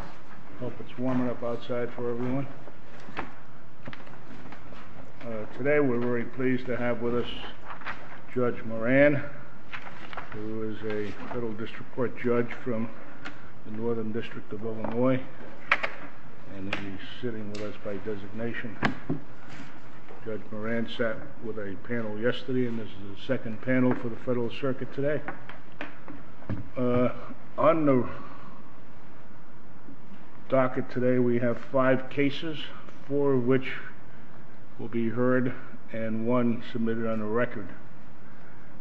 I hope it's warm enough outside for everyone. Today we're very pleased to have with us Judge Moran, who is a federal district court judge from the Northern District of Illinois, and he's sitting with us by designation. Judge Moran sat with a panel yesterday and this is the second panel for the Federal Circuit today. On the docket today we have five cases, four of which will be heard and one submitted on the record.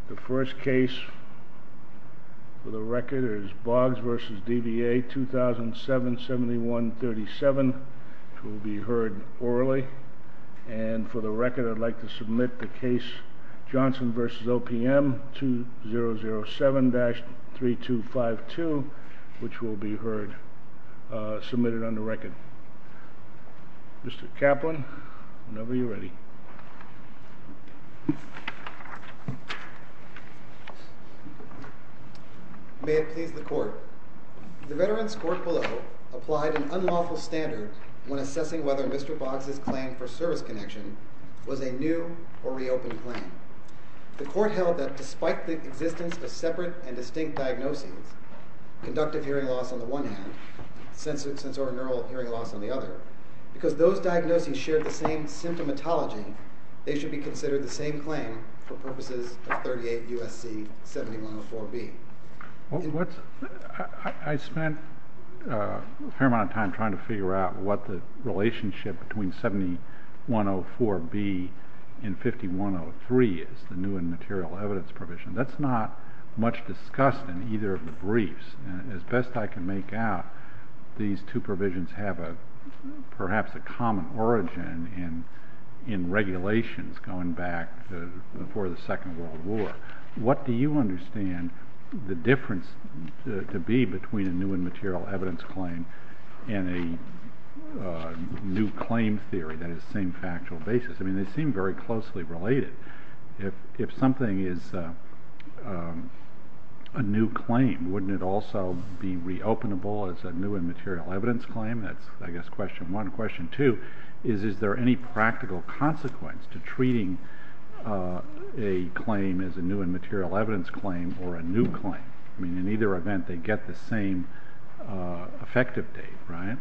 The first case for the record is Boggs v. DVA 2007-7137. It will be heard orally, and for the record I'd like to submit the case Johnson v. OPM 2007-3252, which will be heard, submitted on the record. Mr. Kaplan, whenever you're ready. May it please the Court. The Veterans Court below applied an unlawful standard when assessing whether Mr. Boggs' claim for service connection was a new or reopened claim. The Court held that despite the existence of separate and distinct diagnoses, conductive hearing loss on the one hand, sensorineural hearing loss on the other, because those diagnoses shared the same symptomatology, they should be considered the same claim for purposes of 38 U.S.C. 7104B. I spent a fair amount of time trying to figure out what the relationship between 7104B and 5103 is, the new and material evidence provision. That's not much discussed in either of the briefs. As best I can make out, these two provisions have perhaps a common origin in regulations going back before the Second World War. The difference to be between a new and material evidence claim and a new claim theory, that is, same factual basis, they seem very closely related. If something is a new claim, wouldn't it also be reopenable as a new and material evidence claim? That's, I guess, question one. Question two is, is there any practical consequence to treating a claim as a new and material evidence claim or a new claim? In either event, they get the same effective date, right?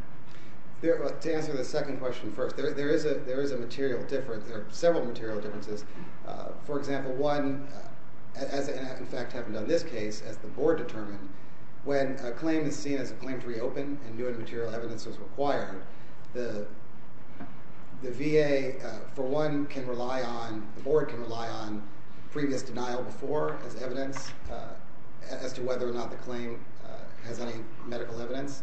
To answer the second question first, there is a material difference. There are several material differences. For example, one, as in fact happened on this case, as the Board determined, when a claim is seen as a claim to reopen and new and material evidence is required, the VA, for one, can rely on, the Board can rely on previous denial before as evidence as to whether or not the claim has any medical evidence.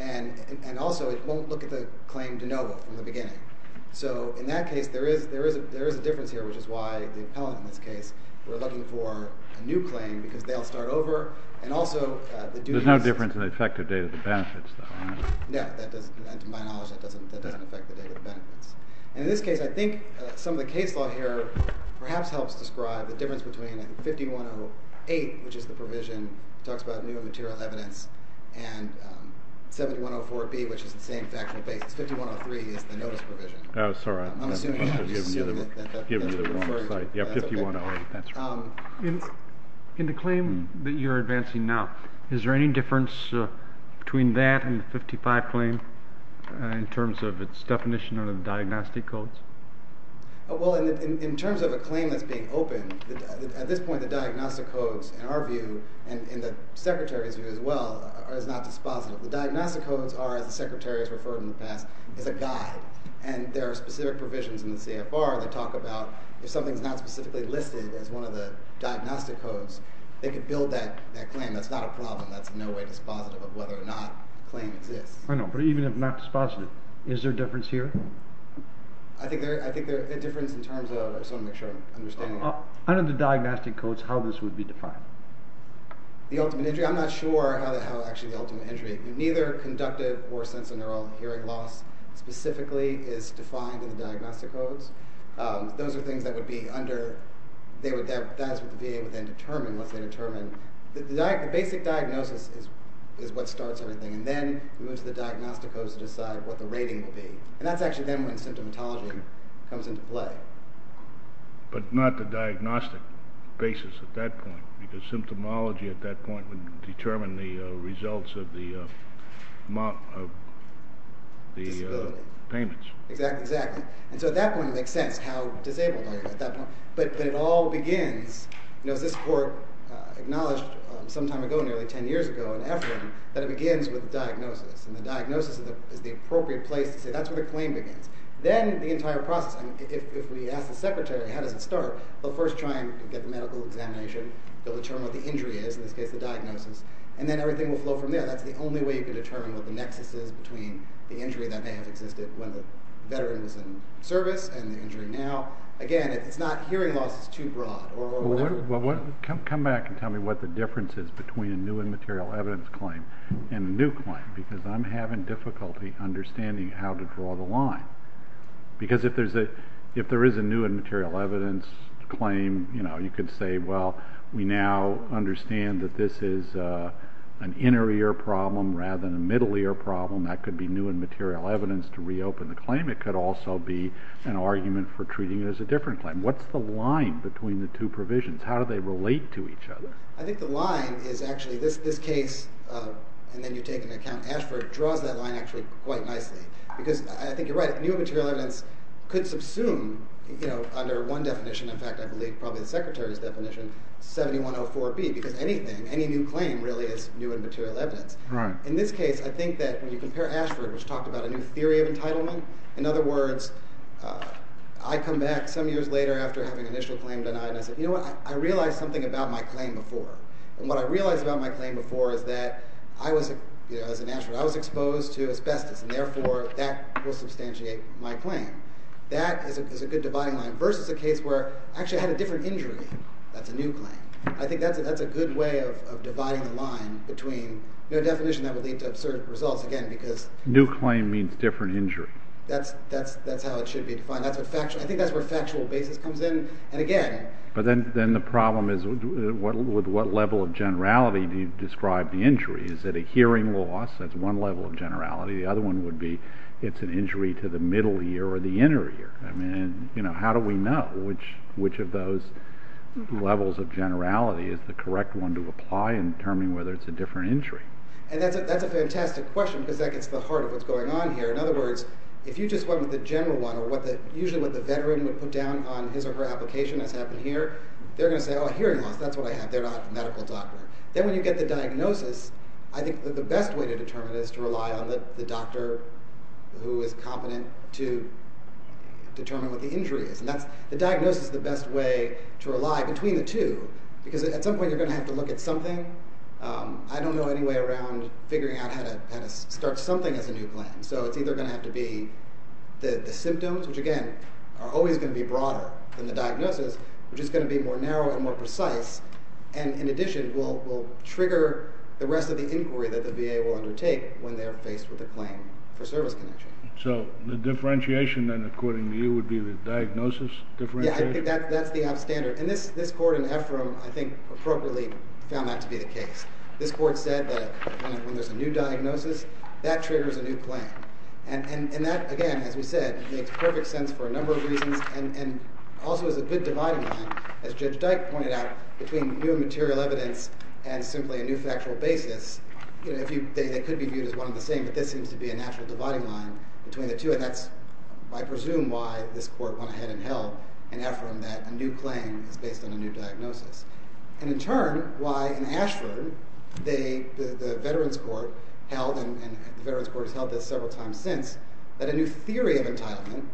And also, it won't look at the claim de novo from the beginning. So in that case, there is a difference here, which is why the appellant in this case, we're looking for a new claim because they all start over. And also, the duties- There's no difference in the effective date of the benefits, though, is there? No. And to my knowledge, that doesn't affect the date of the benefits. And in this case, I think some of the case law here perhaps helps describe the difference between 5108, which is the provision, talks about new and material evidence, and 7104B, which is the same factual basis. 5103 is the notice provision. Oh, sorry. I'm assuming. I'm just assuming that that's what you're referring to. Yeah, 5108, that's right. In the claim that you're advancing now, is there any difference between that and the 55 claim in terms of its definition under the diagnostic codes? Well, in terms of a claim that's being opened, at this point, the diagnostic codes, in our view, and in the Secretary's view as well, is not dispositive. The diagnostic codes are, as the Secretary has referred in the past, is a guide. And there are specific provisions in the CFR that talk about if something's not specifically listed as one of the diagnostic codes, they could build that claim. That's not a problem. That's in no way dispositive of whether or not a claim exists. I know, but even if not dispositive, is there a difference here? I think there's a difference in terms of, I just want to make sure I'm understanding. Under the diagnostic codes, how this would be defined? The ultimate injury? I'm not sure how actually the ultimate injury. Neither conductive or sensorineural hearing loss specifically is defined in the diagnostic codes. Those are things that would be under, that is what the VA would then determine, what they determine. The basic diagnosis is what starts everything, and then we move to the diagnostic codes to decide what the rating will be. And that's actually then when symptomatology comes into play. But not the diagnostic basis at that point, because symptomology at that point would determine the results of the payments. Exactly, exactly. And so at that point, it makes sense how disabled are you at that point. But it all begins, as this Court acknowledged some time ago, nearly 10 years ago in EFRIM, that it begins with diagnosis. And the diagnosis is the appropriate place to say, that's where the claim begins. Then the entire process, if we ask the secretary, how does it start? They'll first try and get the medical examination, they'll determine what the injury is, in this case the diagnosis, and then everything will flow from there. That's the only way you can determine what the nexus is between the injury that may have existed when the veteran was in service and the injury now. Again, it's not hearing loss is too broad. Well, come back and tell me what the difference is between a new and material evidence claim and a new claim, because I'm having difficulty understanding how to draw the line. Because if there is a new and material evidence claim, you could say, well, we now understand that this is an inter-ear problem rather than a middle-ear problem. That could be new and material evidence to reopen the claim. It could also be an argument for provisions. How do they relate to each other? I think the line is actually, this case, and then you take into account Ashford, draws that line actually quite nicely. Because I think you're right, new and material evidence could subsume under one definition, in fact I believe probably the secretary's definition, 7104B, because anything, any new claim really is new and material evidence. In this case, I think that when you compare Ashford, which talked about a new theory of entitlement, in other words, I come back some years later after having an initial claim denied, and I said, you know what, I realized something about my claim before. And what I realized about my claim before is that I was, as an Ashford, I was exposed to asbestos, and therefore that will substantiate my claim. That is a good dividing line, versus a case where I actually had a different injury. That's a new claim. I think that's a good way of dividing the line between a definition that would lead to absurd results, again, because... New claim means different injury. That's how it should be defined. I think that's where factual basis comes in. And again... But then the problem is, with what level of generality do you describe the injury? Is it a hearing loss? That's one level of generality. The other one would be, it's an injury to the middle ear or the inner ear. I mean, you know, how do we know which of those levels of generality is the correct one to apply in determining whether it's a different injury? And that's a fantastic question, because that gets to the heart of what's going on here. In other words, if you just went with the general one, or his or her application as happened here, they're gonna say, oh, hearing loss, that's what I have. They're not a medical doctor. Then when you get the diagnosis, I think the best way to determine it is to rely on the doctor who is competent to determine what the injury is. And that's... The diagnosis is the best way to rely between the two, because at some point you're gonna have to look at something. I don't know any way around figuring out how to start something as a new claim. So it's either gonna have to be the symptoms, which again, are always gonna be broader than the diagnosis, which is gonna be more narrow and more precise, and in addition, will trigger the rest of the inquiry that the VA will undertake when they're faced with a claim for service connection. So the differentiation then, according to you, would be the diagnosis differentiation? Yeah, I think that's the upstander. And this court in Ephraim, I think, appropriately found that to be the case. This court said that when there's a new diagnosis, that triggers a new claim. And that, again, as we said, makes perfect sense for a number of reasons, and also is a good dividing line, as Judge Dyke pointed out, between new material evidence and simply a new factual basis. They could be viewed as one and the same, but this seems to be a natural dividing line between the two, and that's, I presume, why this court went ahead and held in Ephraim that a new claim is based on a new diagnosis. And in turn, why in Ashford, the Veterans Court held, and the Veterans Court has held this several times since, that a new theory of entitlement,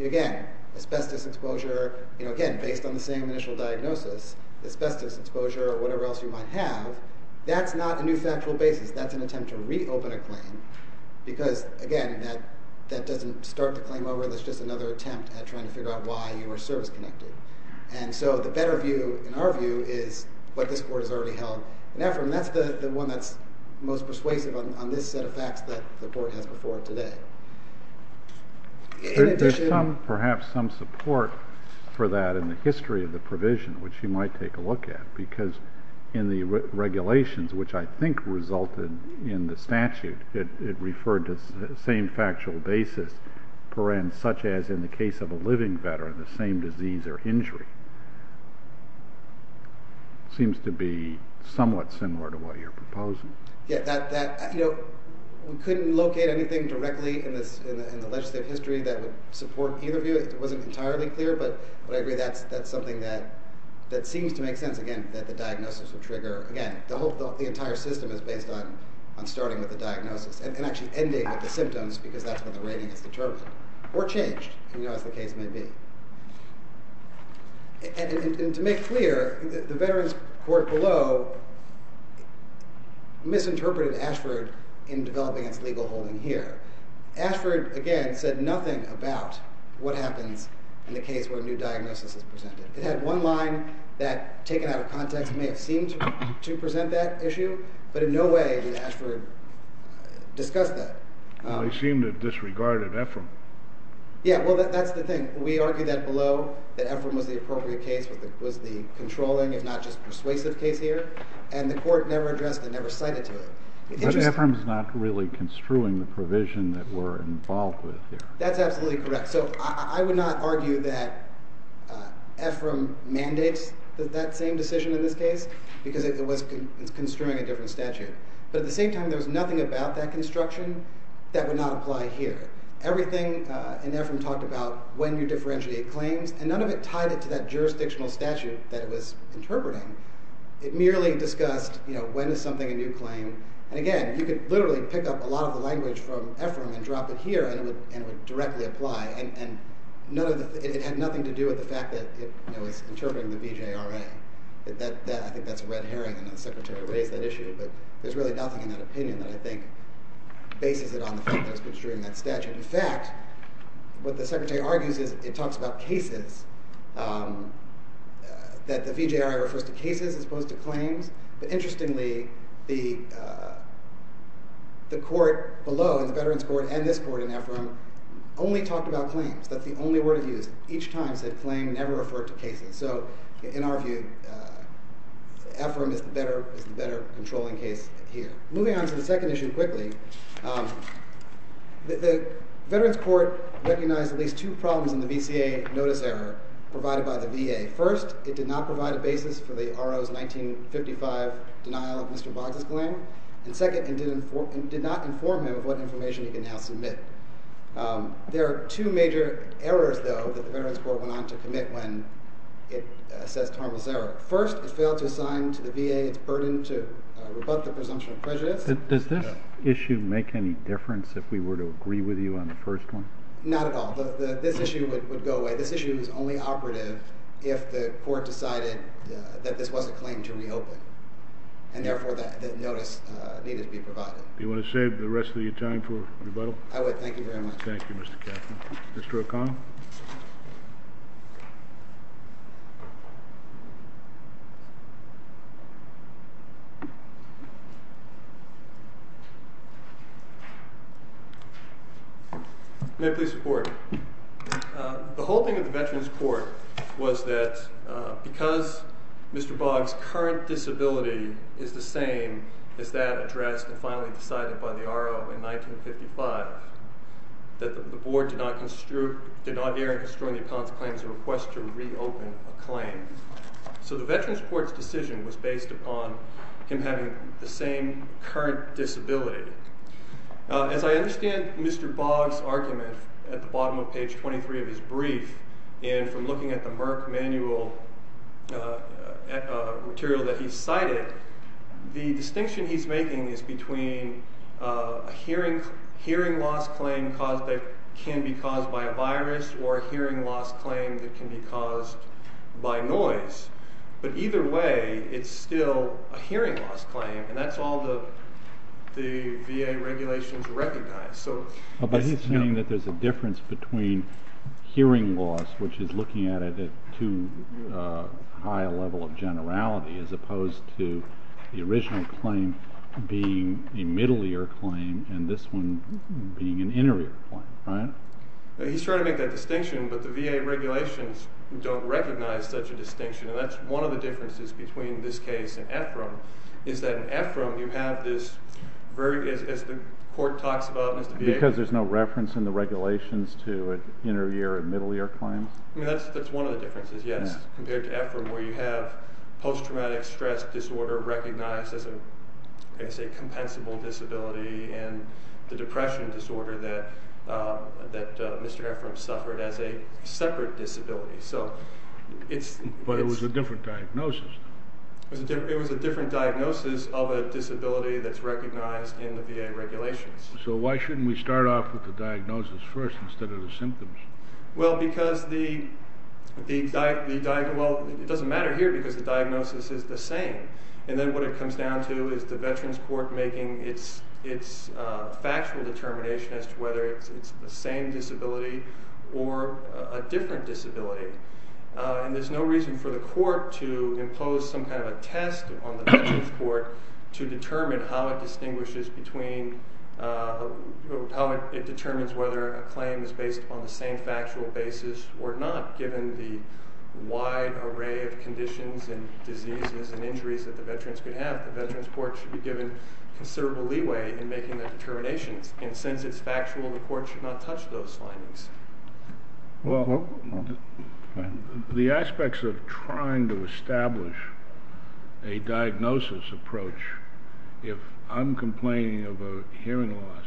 again, asbestos exposure, you know, again, based on the same initial diagnosis, asbestos exposure or whatever else you might have, that's not a new factual basis. That's an attempt to reopen a claim, because, again, that doesn't start the claim over, that's just another attempt at trying to figure out why you were service connected. And so the better view, in our view, is what this court has already held in Ephraim, and that's the one that's most persuasive on this set of facts that the court has before it today. In addition... There's some, perhaps, some support for that in the history of the provision, which you might take a look at, because in the regulations, which I think resulted in the statute, it referred to the same factual basis, such as in the case of a living veteran, the same disease or something. It seems to be somewhat similar to what you're proposing. Yeah, that, you know, we couldn't locate anything directly in the legislative history that would support either view, it wasn't entirely clear, but I agree that's something that seems to make sense, again, that the diagnosis would trigger, again, the whole, the entire system is based on starting with the diagnosis, and actually ending with the symptoms, because that's when the rating is determined, or changed, as the case may be. And to make clear, the Veterans Court below misinterpreted Ashford in developing its legal holding here. Ashford, again, said nothing about what happens in the case where a new diagnosis is presented. It had one line that, taken out of context, may have seemed to present that issue, but in no way did Ashford discuss that. Well, he seemed to have disregarded Ephraim. Yeah, well, that's the thing. We argued that below, that Ephraim was the appropriate case, was the controlling, if not just persuasive case here, and the court never addressed it, never cited to it. But Ephraim's not really construing the provision that we're involved with here. That's absolutely correct. So I would not argue that Ephraim mandates that same decision in this case, because it was construing a different statute. But at the same time, there was nothing about that construction that would not apply here. Everything in Ephraim talked about when you differentiate claims, and none of it tied it to that jurisdictional statute that it was interpreting. It merely discussed when is something a new claim. And again, you could literally pick up a lot of the language from Ephraim and drop it here, and it would directly apply. And it had nothing to do with the fact that it was interpreting the BJRA. I think that's a red herring, and the Secretary raised that issue. But there's really nothing in that opinion that I think bases it on the fact that it was construing that statute. In fact, what the Secretary argues is it talks about cases, that the BJRA refers to cases as opposed to claims. But interestingly, the court below, in the Veterans Court and this court in Ephraim, only talked about claims. That's the only word it used. Each time, it said claim never referred to cases. So in our view, Ephraim is the better controlling case here. Moving on to the second issue quickly, the Veterans Court recognized at least two problems in the VCA notice error provided by the VA. First, it did not provide a basis for the RO's 1955 denial of Mr. Boggs' claim. And second, it did not inform him of what information he can now submit. There are two major errors, though, that the Veterans Court went on to commit when it assessed Harville's error. First, it did not provide a basis for the RO's 1955 denial of Mr. Boggs' claim. And second, it did not inform him of what information he can now submit. Does this issue make any difference if we were to agree with you on the first one? Not at all. This issue would go away. This issue is only operative if the court decided that this was a claim to reopen. And therefore, that notice needed to be provided. Do you wanna save the rest of your time for rebuttal? I would. Thank you very much. Thank you. May I please report? The whole thing of the Veterans Court was that because Mr. Boggs' current disability is the same as that addressed and finally decided by the RO in 1955, that the board did not dare in construing the account's claim as a request to reopen a claim. So the current disability. As I understand Mr. Boggs' argument at the bottom of page 23 of his brief, and from looking at the Merck manual material that he cited, the distinction he's making is between a hearing loss claim that can be caused by a virus or a hearing loss claim that can be caused by noise. But either way, it's still a hearing loss claim, and that's all the VA regulations recognize. But he's saying that there's a difference between hearing loss, which is looking at it at too high a level of generality, as opposed to the original claim being a middle ear claim and this one being an inner ear claim, right? He's trying to make that distinction, but the VA regulations don't recognize such a distinction, and that's one of the differences between this case and Ephraim, is that in Ephraim, you have this very, as the court talks about, because there's no reference in the regulations to an inner ear and middle ear claim. That's one of the differences, yes, compared to Ephraim, where you have post-traumatic stress disorder recognized as a compensable disability, and the depression disorder that Mr. Ephraim suffered as a separate disability. But it was a different diagnosis. It was a different diagnosis of a disability that's recognized in the VA regulations. So why shouldn't we start off with the diagnosis first, instead of the symptoms? Well, because the, well, it doesn't matter here, because the diagnosis is the same. And then what it comes down to is the Veterans Court making its factual determination as to whether it's the same disability or a different disability. And there's no reason for the court to impose some kind of a test on the Veterans Court to determine how it distinguishes between, how it determines whether a claim is based on the same factual basis or not, given the wide array of conditions and diseases and injuries that the veterans could have. The Veterans Court should be given considerable leeway in making their determinations. And since it's factual, the court should not touch those findings. Well, the aspects of trying to establish a diagnosis approach, if I'm complaining of a hearing loss,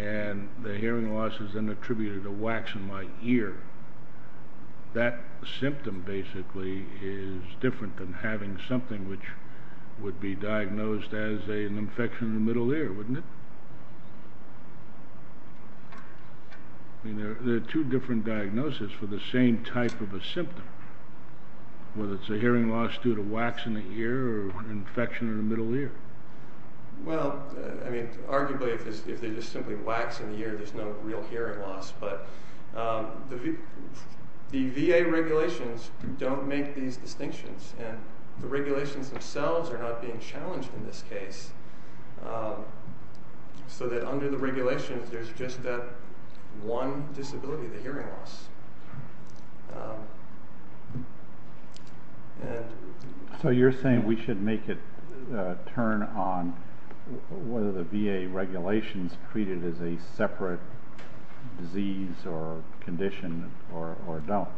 and the hearing loss is then attributed to wax in my ear, that symptom basically is different than having something which would be diagnosed as an infection in the middle ear, wouldn't it? I mean, there are two different diagnoses for the same type of a symptom, whether it's a hearing loss due to wax in the ear or an infection in the middle ear. Well, I mean, arguably, if they're just simply wax in the ear, there's no real hearing loss. But the VA regulations don't make these distinctions, and the regulations themselves are not being challenged in this case. So that under the regulations, there's just that one disability, the hearing loss. So you're saying we should make it turn on whether the VA regulations treat it as a separate disease or condition or don't?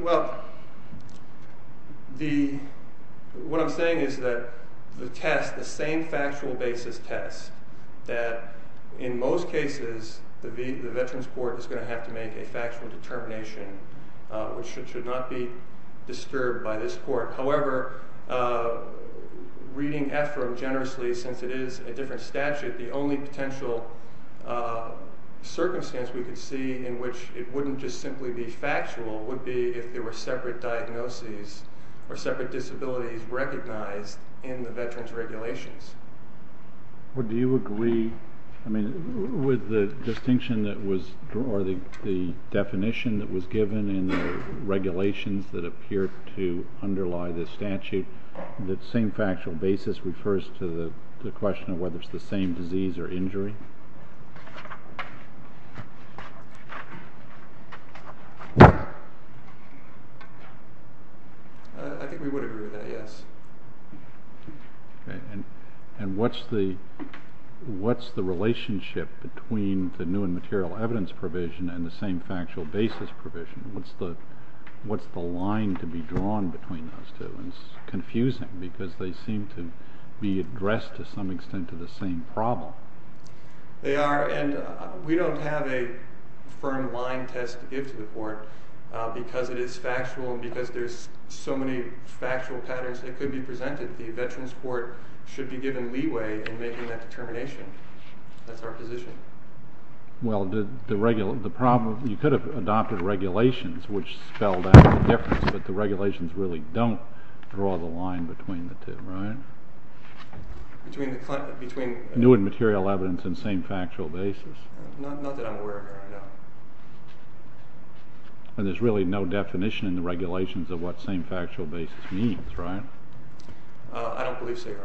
Well, what I'm saying is that the test, the same factual basis test, that in most cases, the Veterans Court is going to have to make a factual determination, which should not be disturbed by this court. However, reading AFRO generously, since it is a different statute, the only potential circumstance we could see in which it wouldn't just simply be factual would be if there were separate diagnoses or separate disabilities recognized in the Veterans regulations. Well, do you agree, I mean, with the distinction that was drawn or the definition that was given in the regulations that appear to underlie this statute, that same factual basis refers to the question of whether it's the same disease or injury? I think we would agree with that, yes. And what's the relationship between the new and material evidence provision and the same factual basis provision? What's the line to be drawn between those two? It's confusing because they seem to be addressed to some extent to the same problem. They are, and we don't have a firm line test to give to the court because it is factual and because there's so many factual patterns that could be presented. The Veterans Court should be given leeway in making that determination. That's our position. Well, the problem, you could have adopted regulations, which spelled out the difference, but the regulations really don't draw the line between the two, right? Between the... New and material evidence and same factual basis. Not that I'm aware of, no. And there's really no definition in the regulations of what same factual basis means, right? I don't believe so, Your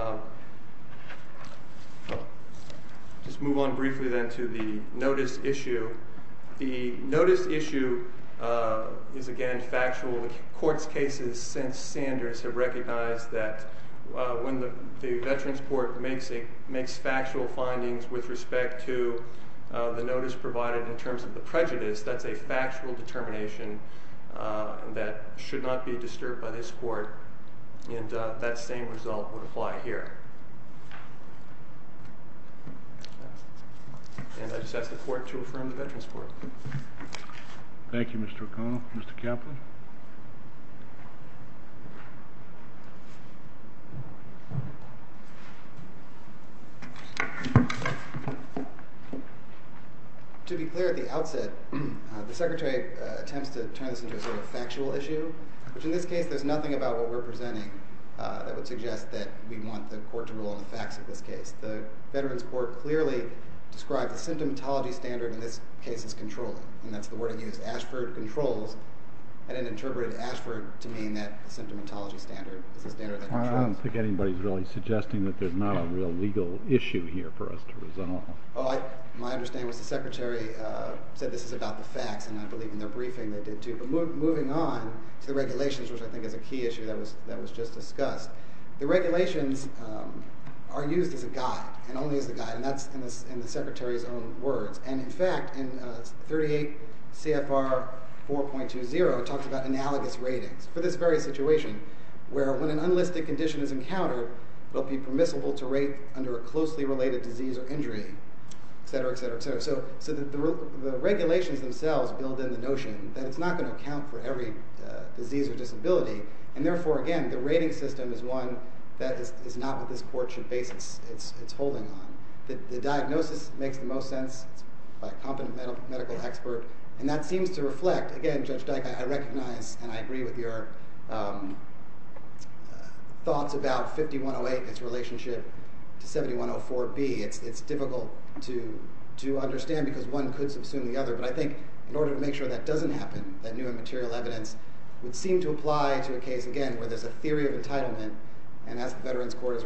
Honor. Just move on briefly then to the notice issue. The notice issue is, again, factual. The court's cases since Sanders have recognized that when the Veterans Court makes factual findings with respect to the notice provided in terms of the prejudice, that's a factual determination that should not be disturbed by this court and that same result would apply here. And I just ask the court to affirm the Veterans Court. Thank you, Mr. O'Connell. Mr. Kaplan? To be clear at the outset, the Secretary attempts to turn this into a sort of factual issue, which in this case, there's nothing about what we're presenting that would suggest that we want the court to rule on the facts of this case. The Veterans Court clearly described the symptomatology standard in this case as controlling, and that's the word it used. Ashford controls and interpreted Ashford to mean that symptomatology standard is a standard that controls. I don't think anybody's really suggesting that there's not a real legal issue here for us to resolve. Well, my understanding is the Secretary said this is about the facts, and I believe in their briefing they did, too. But moving on to the regulations, which I think is a key issue that was just discussed, the regulations are used as a guide and only as a guide, and that's in the Secretary's own words. And in fact, in 38 CFR 4.20, it talks about analogous ratings for this very situation, where when an unlisted condition is encountered, they'll be permissible to rate under a closely related disease or injury, et cetera, et cetera, et cetera. So the regulations themselves build in the notion that it's not going to account for every disease or disability, and therefore, again, the rating system is one that is not what this court should base its holding on. The diagnosis makes the most sense by a competent medical expert, and that seems to reflect, again, Judge Dyke, I recognize and I agree with your thoughts about 5108 and its relationship to 7104B. It's difficult to understand because one could subsume the other, but I think in order to make sure that doesn't happen, that new and material evidence would seem to apply to a case, again, where there's a theory of entitlement, and as the Veterans Court has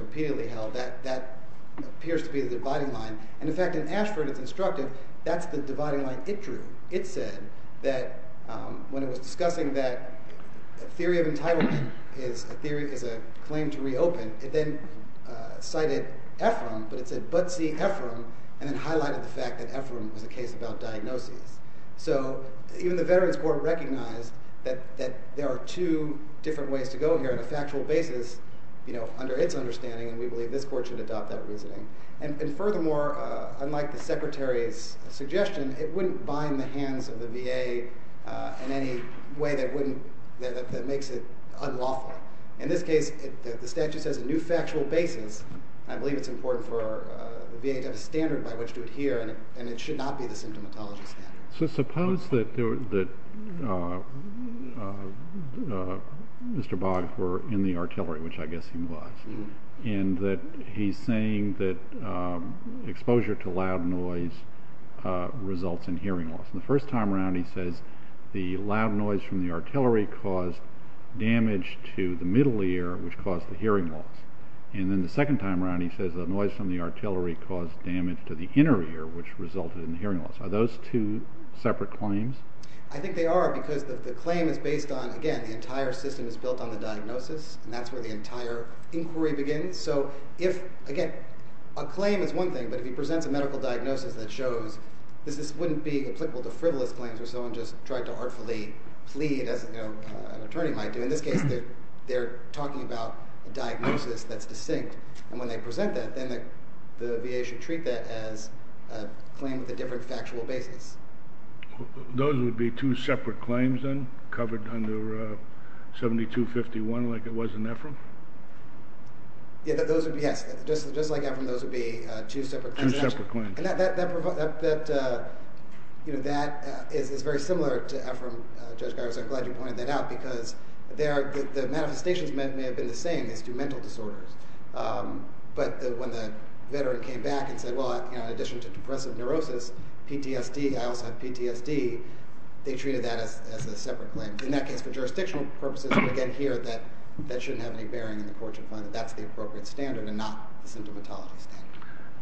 in fact, in Ashford, it's instructive, that's the dividing line it drew. It said that when it was discussing that theory of entitlement is a claim to reopen, it then cited Ephraim, but it said, but see Ephraim, and then highlighted the fact that Ephraim was a case about diagnoses. So even the Veterans Court recognized that there are two different ways to go here on a factual basis, you know, under its understanding, and we believe this court should adopt that reasoning. And furthermore, unlike the Secretary's suggestion, it wouldn't bind the hands of the VA in any way that wouldn't, that makes it unlawful. In this case, the statute says a new factual basis, I believe it's important for the VA to have a standard by which to adhere, and it should not be the symptomatology standard. So suppose that Mr. Boggs were in the artillery, which I guess he was, and that he's saying that exposure to loud noise results in hearing loss. The first time around he says the loud noise from the artillery caused damage to the middle ear, which caused the hearing loss, and then the second time around he says the noise from the artillery caused damage to the inner ear, which resulted in hearing loss. Are those two separate claims? I think they are, because the claim is based on, again, the entire system is inquiry begins. So if, again, a claim is one thing, but if he presents a medical diagnosis that shows, this wouldn't be applicable to frivolous claims where someone just tried to artfully plead as an attorney might do. In this case, they're talking about a diagnosis that's distinct, and when they present that, then the VA should treat that as a claim with a different factual basis. Those would be two separate claims then, covered under 7251, like it was in Ephraim? Yeah, those would be, yes. Just like Ephraim, those would be two separate claims. Two separate claims. And that is very similar to Ephraim, Judge Garza. I'm glad you pointed that out, because the manifestations may have been the same, these two mental disorders. But when the veteran came back and said, well, in addition to depressive neurosis, PTSD, I also have a mental disorder. In that case, for jurisdictional purposes, we get here that that shouldn't have any bearing in the courtship fund, that that's the appropriate standard and not the symptomatology standard.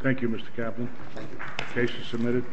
Thank you, Mr. Caplan. The case is submitted.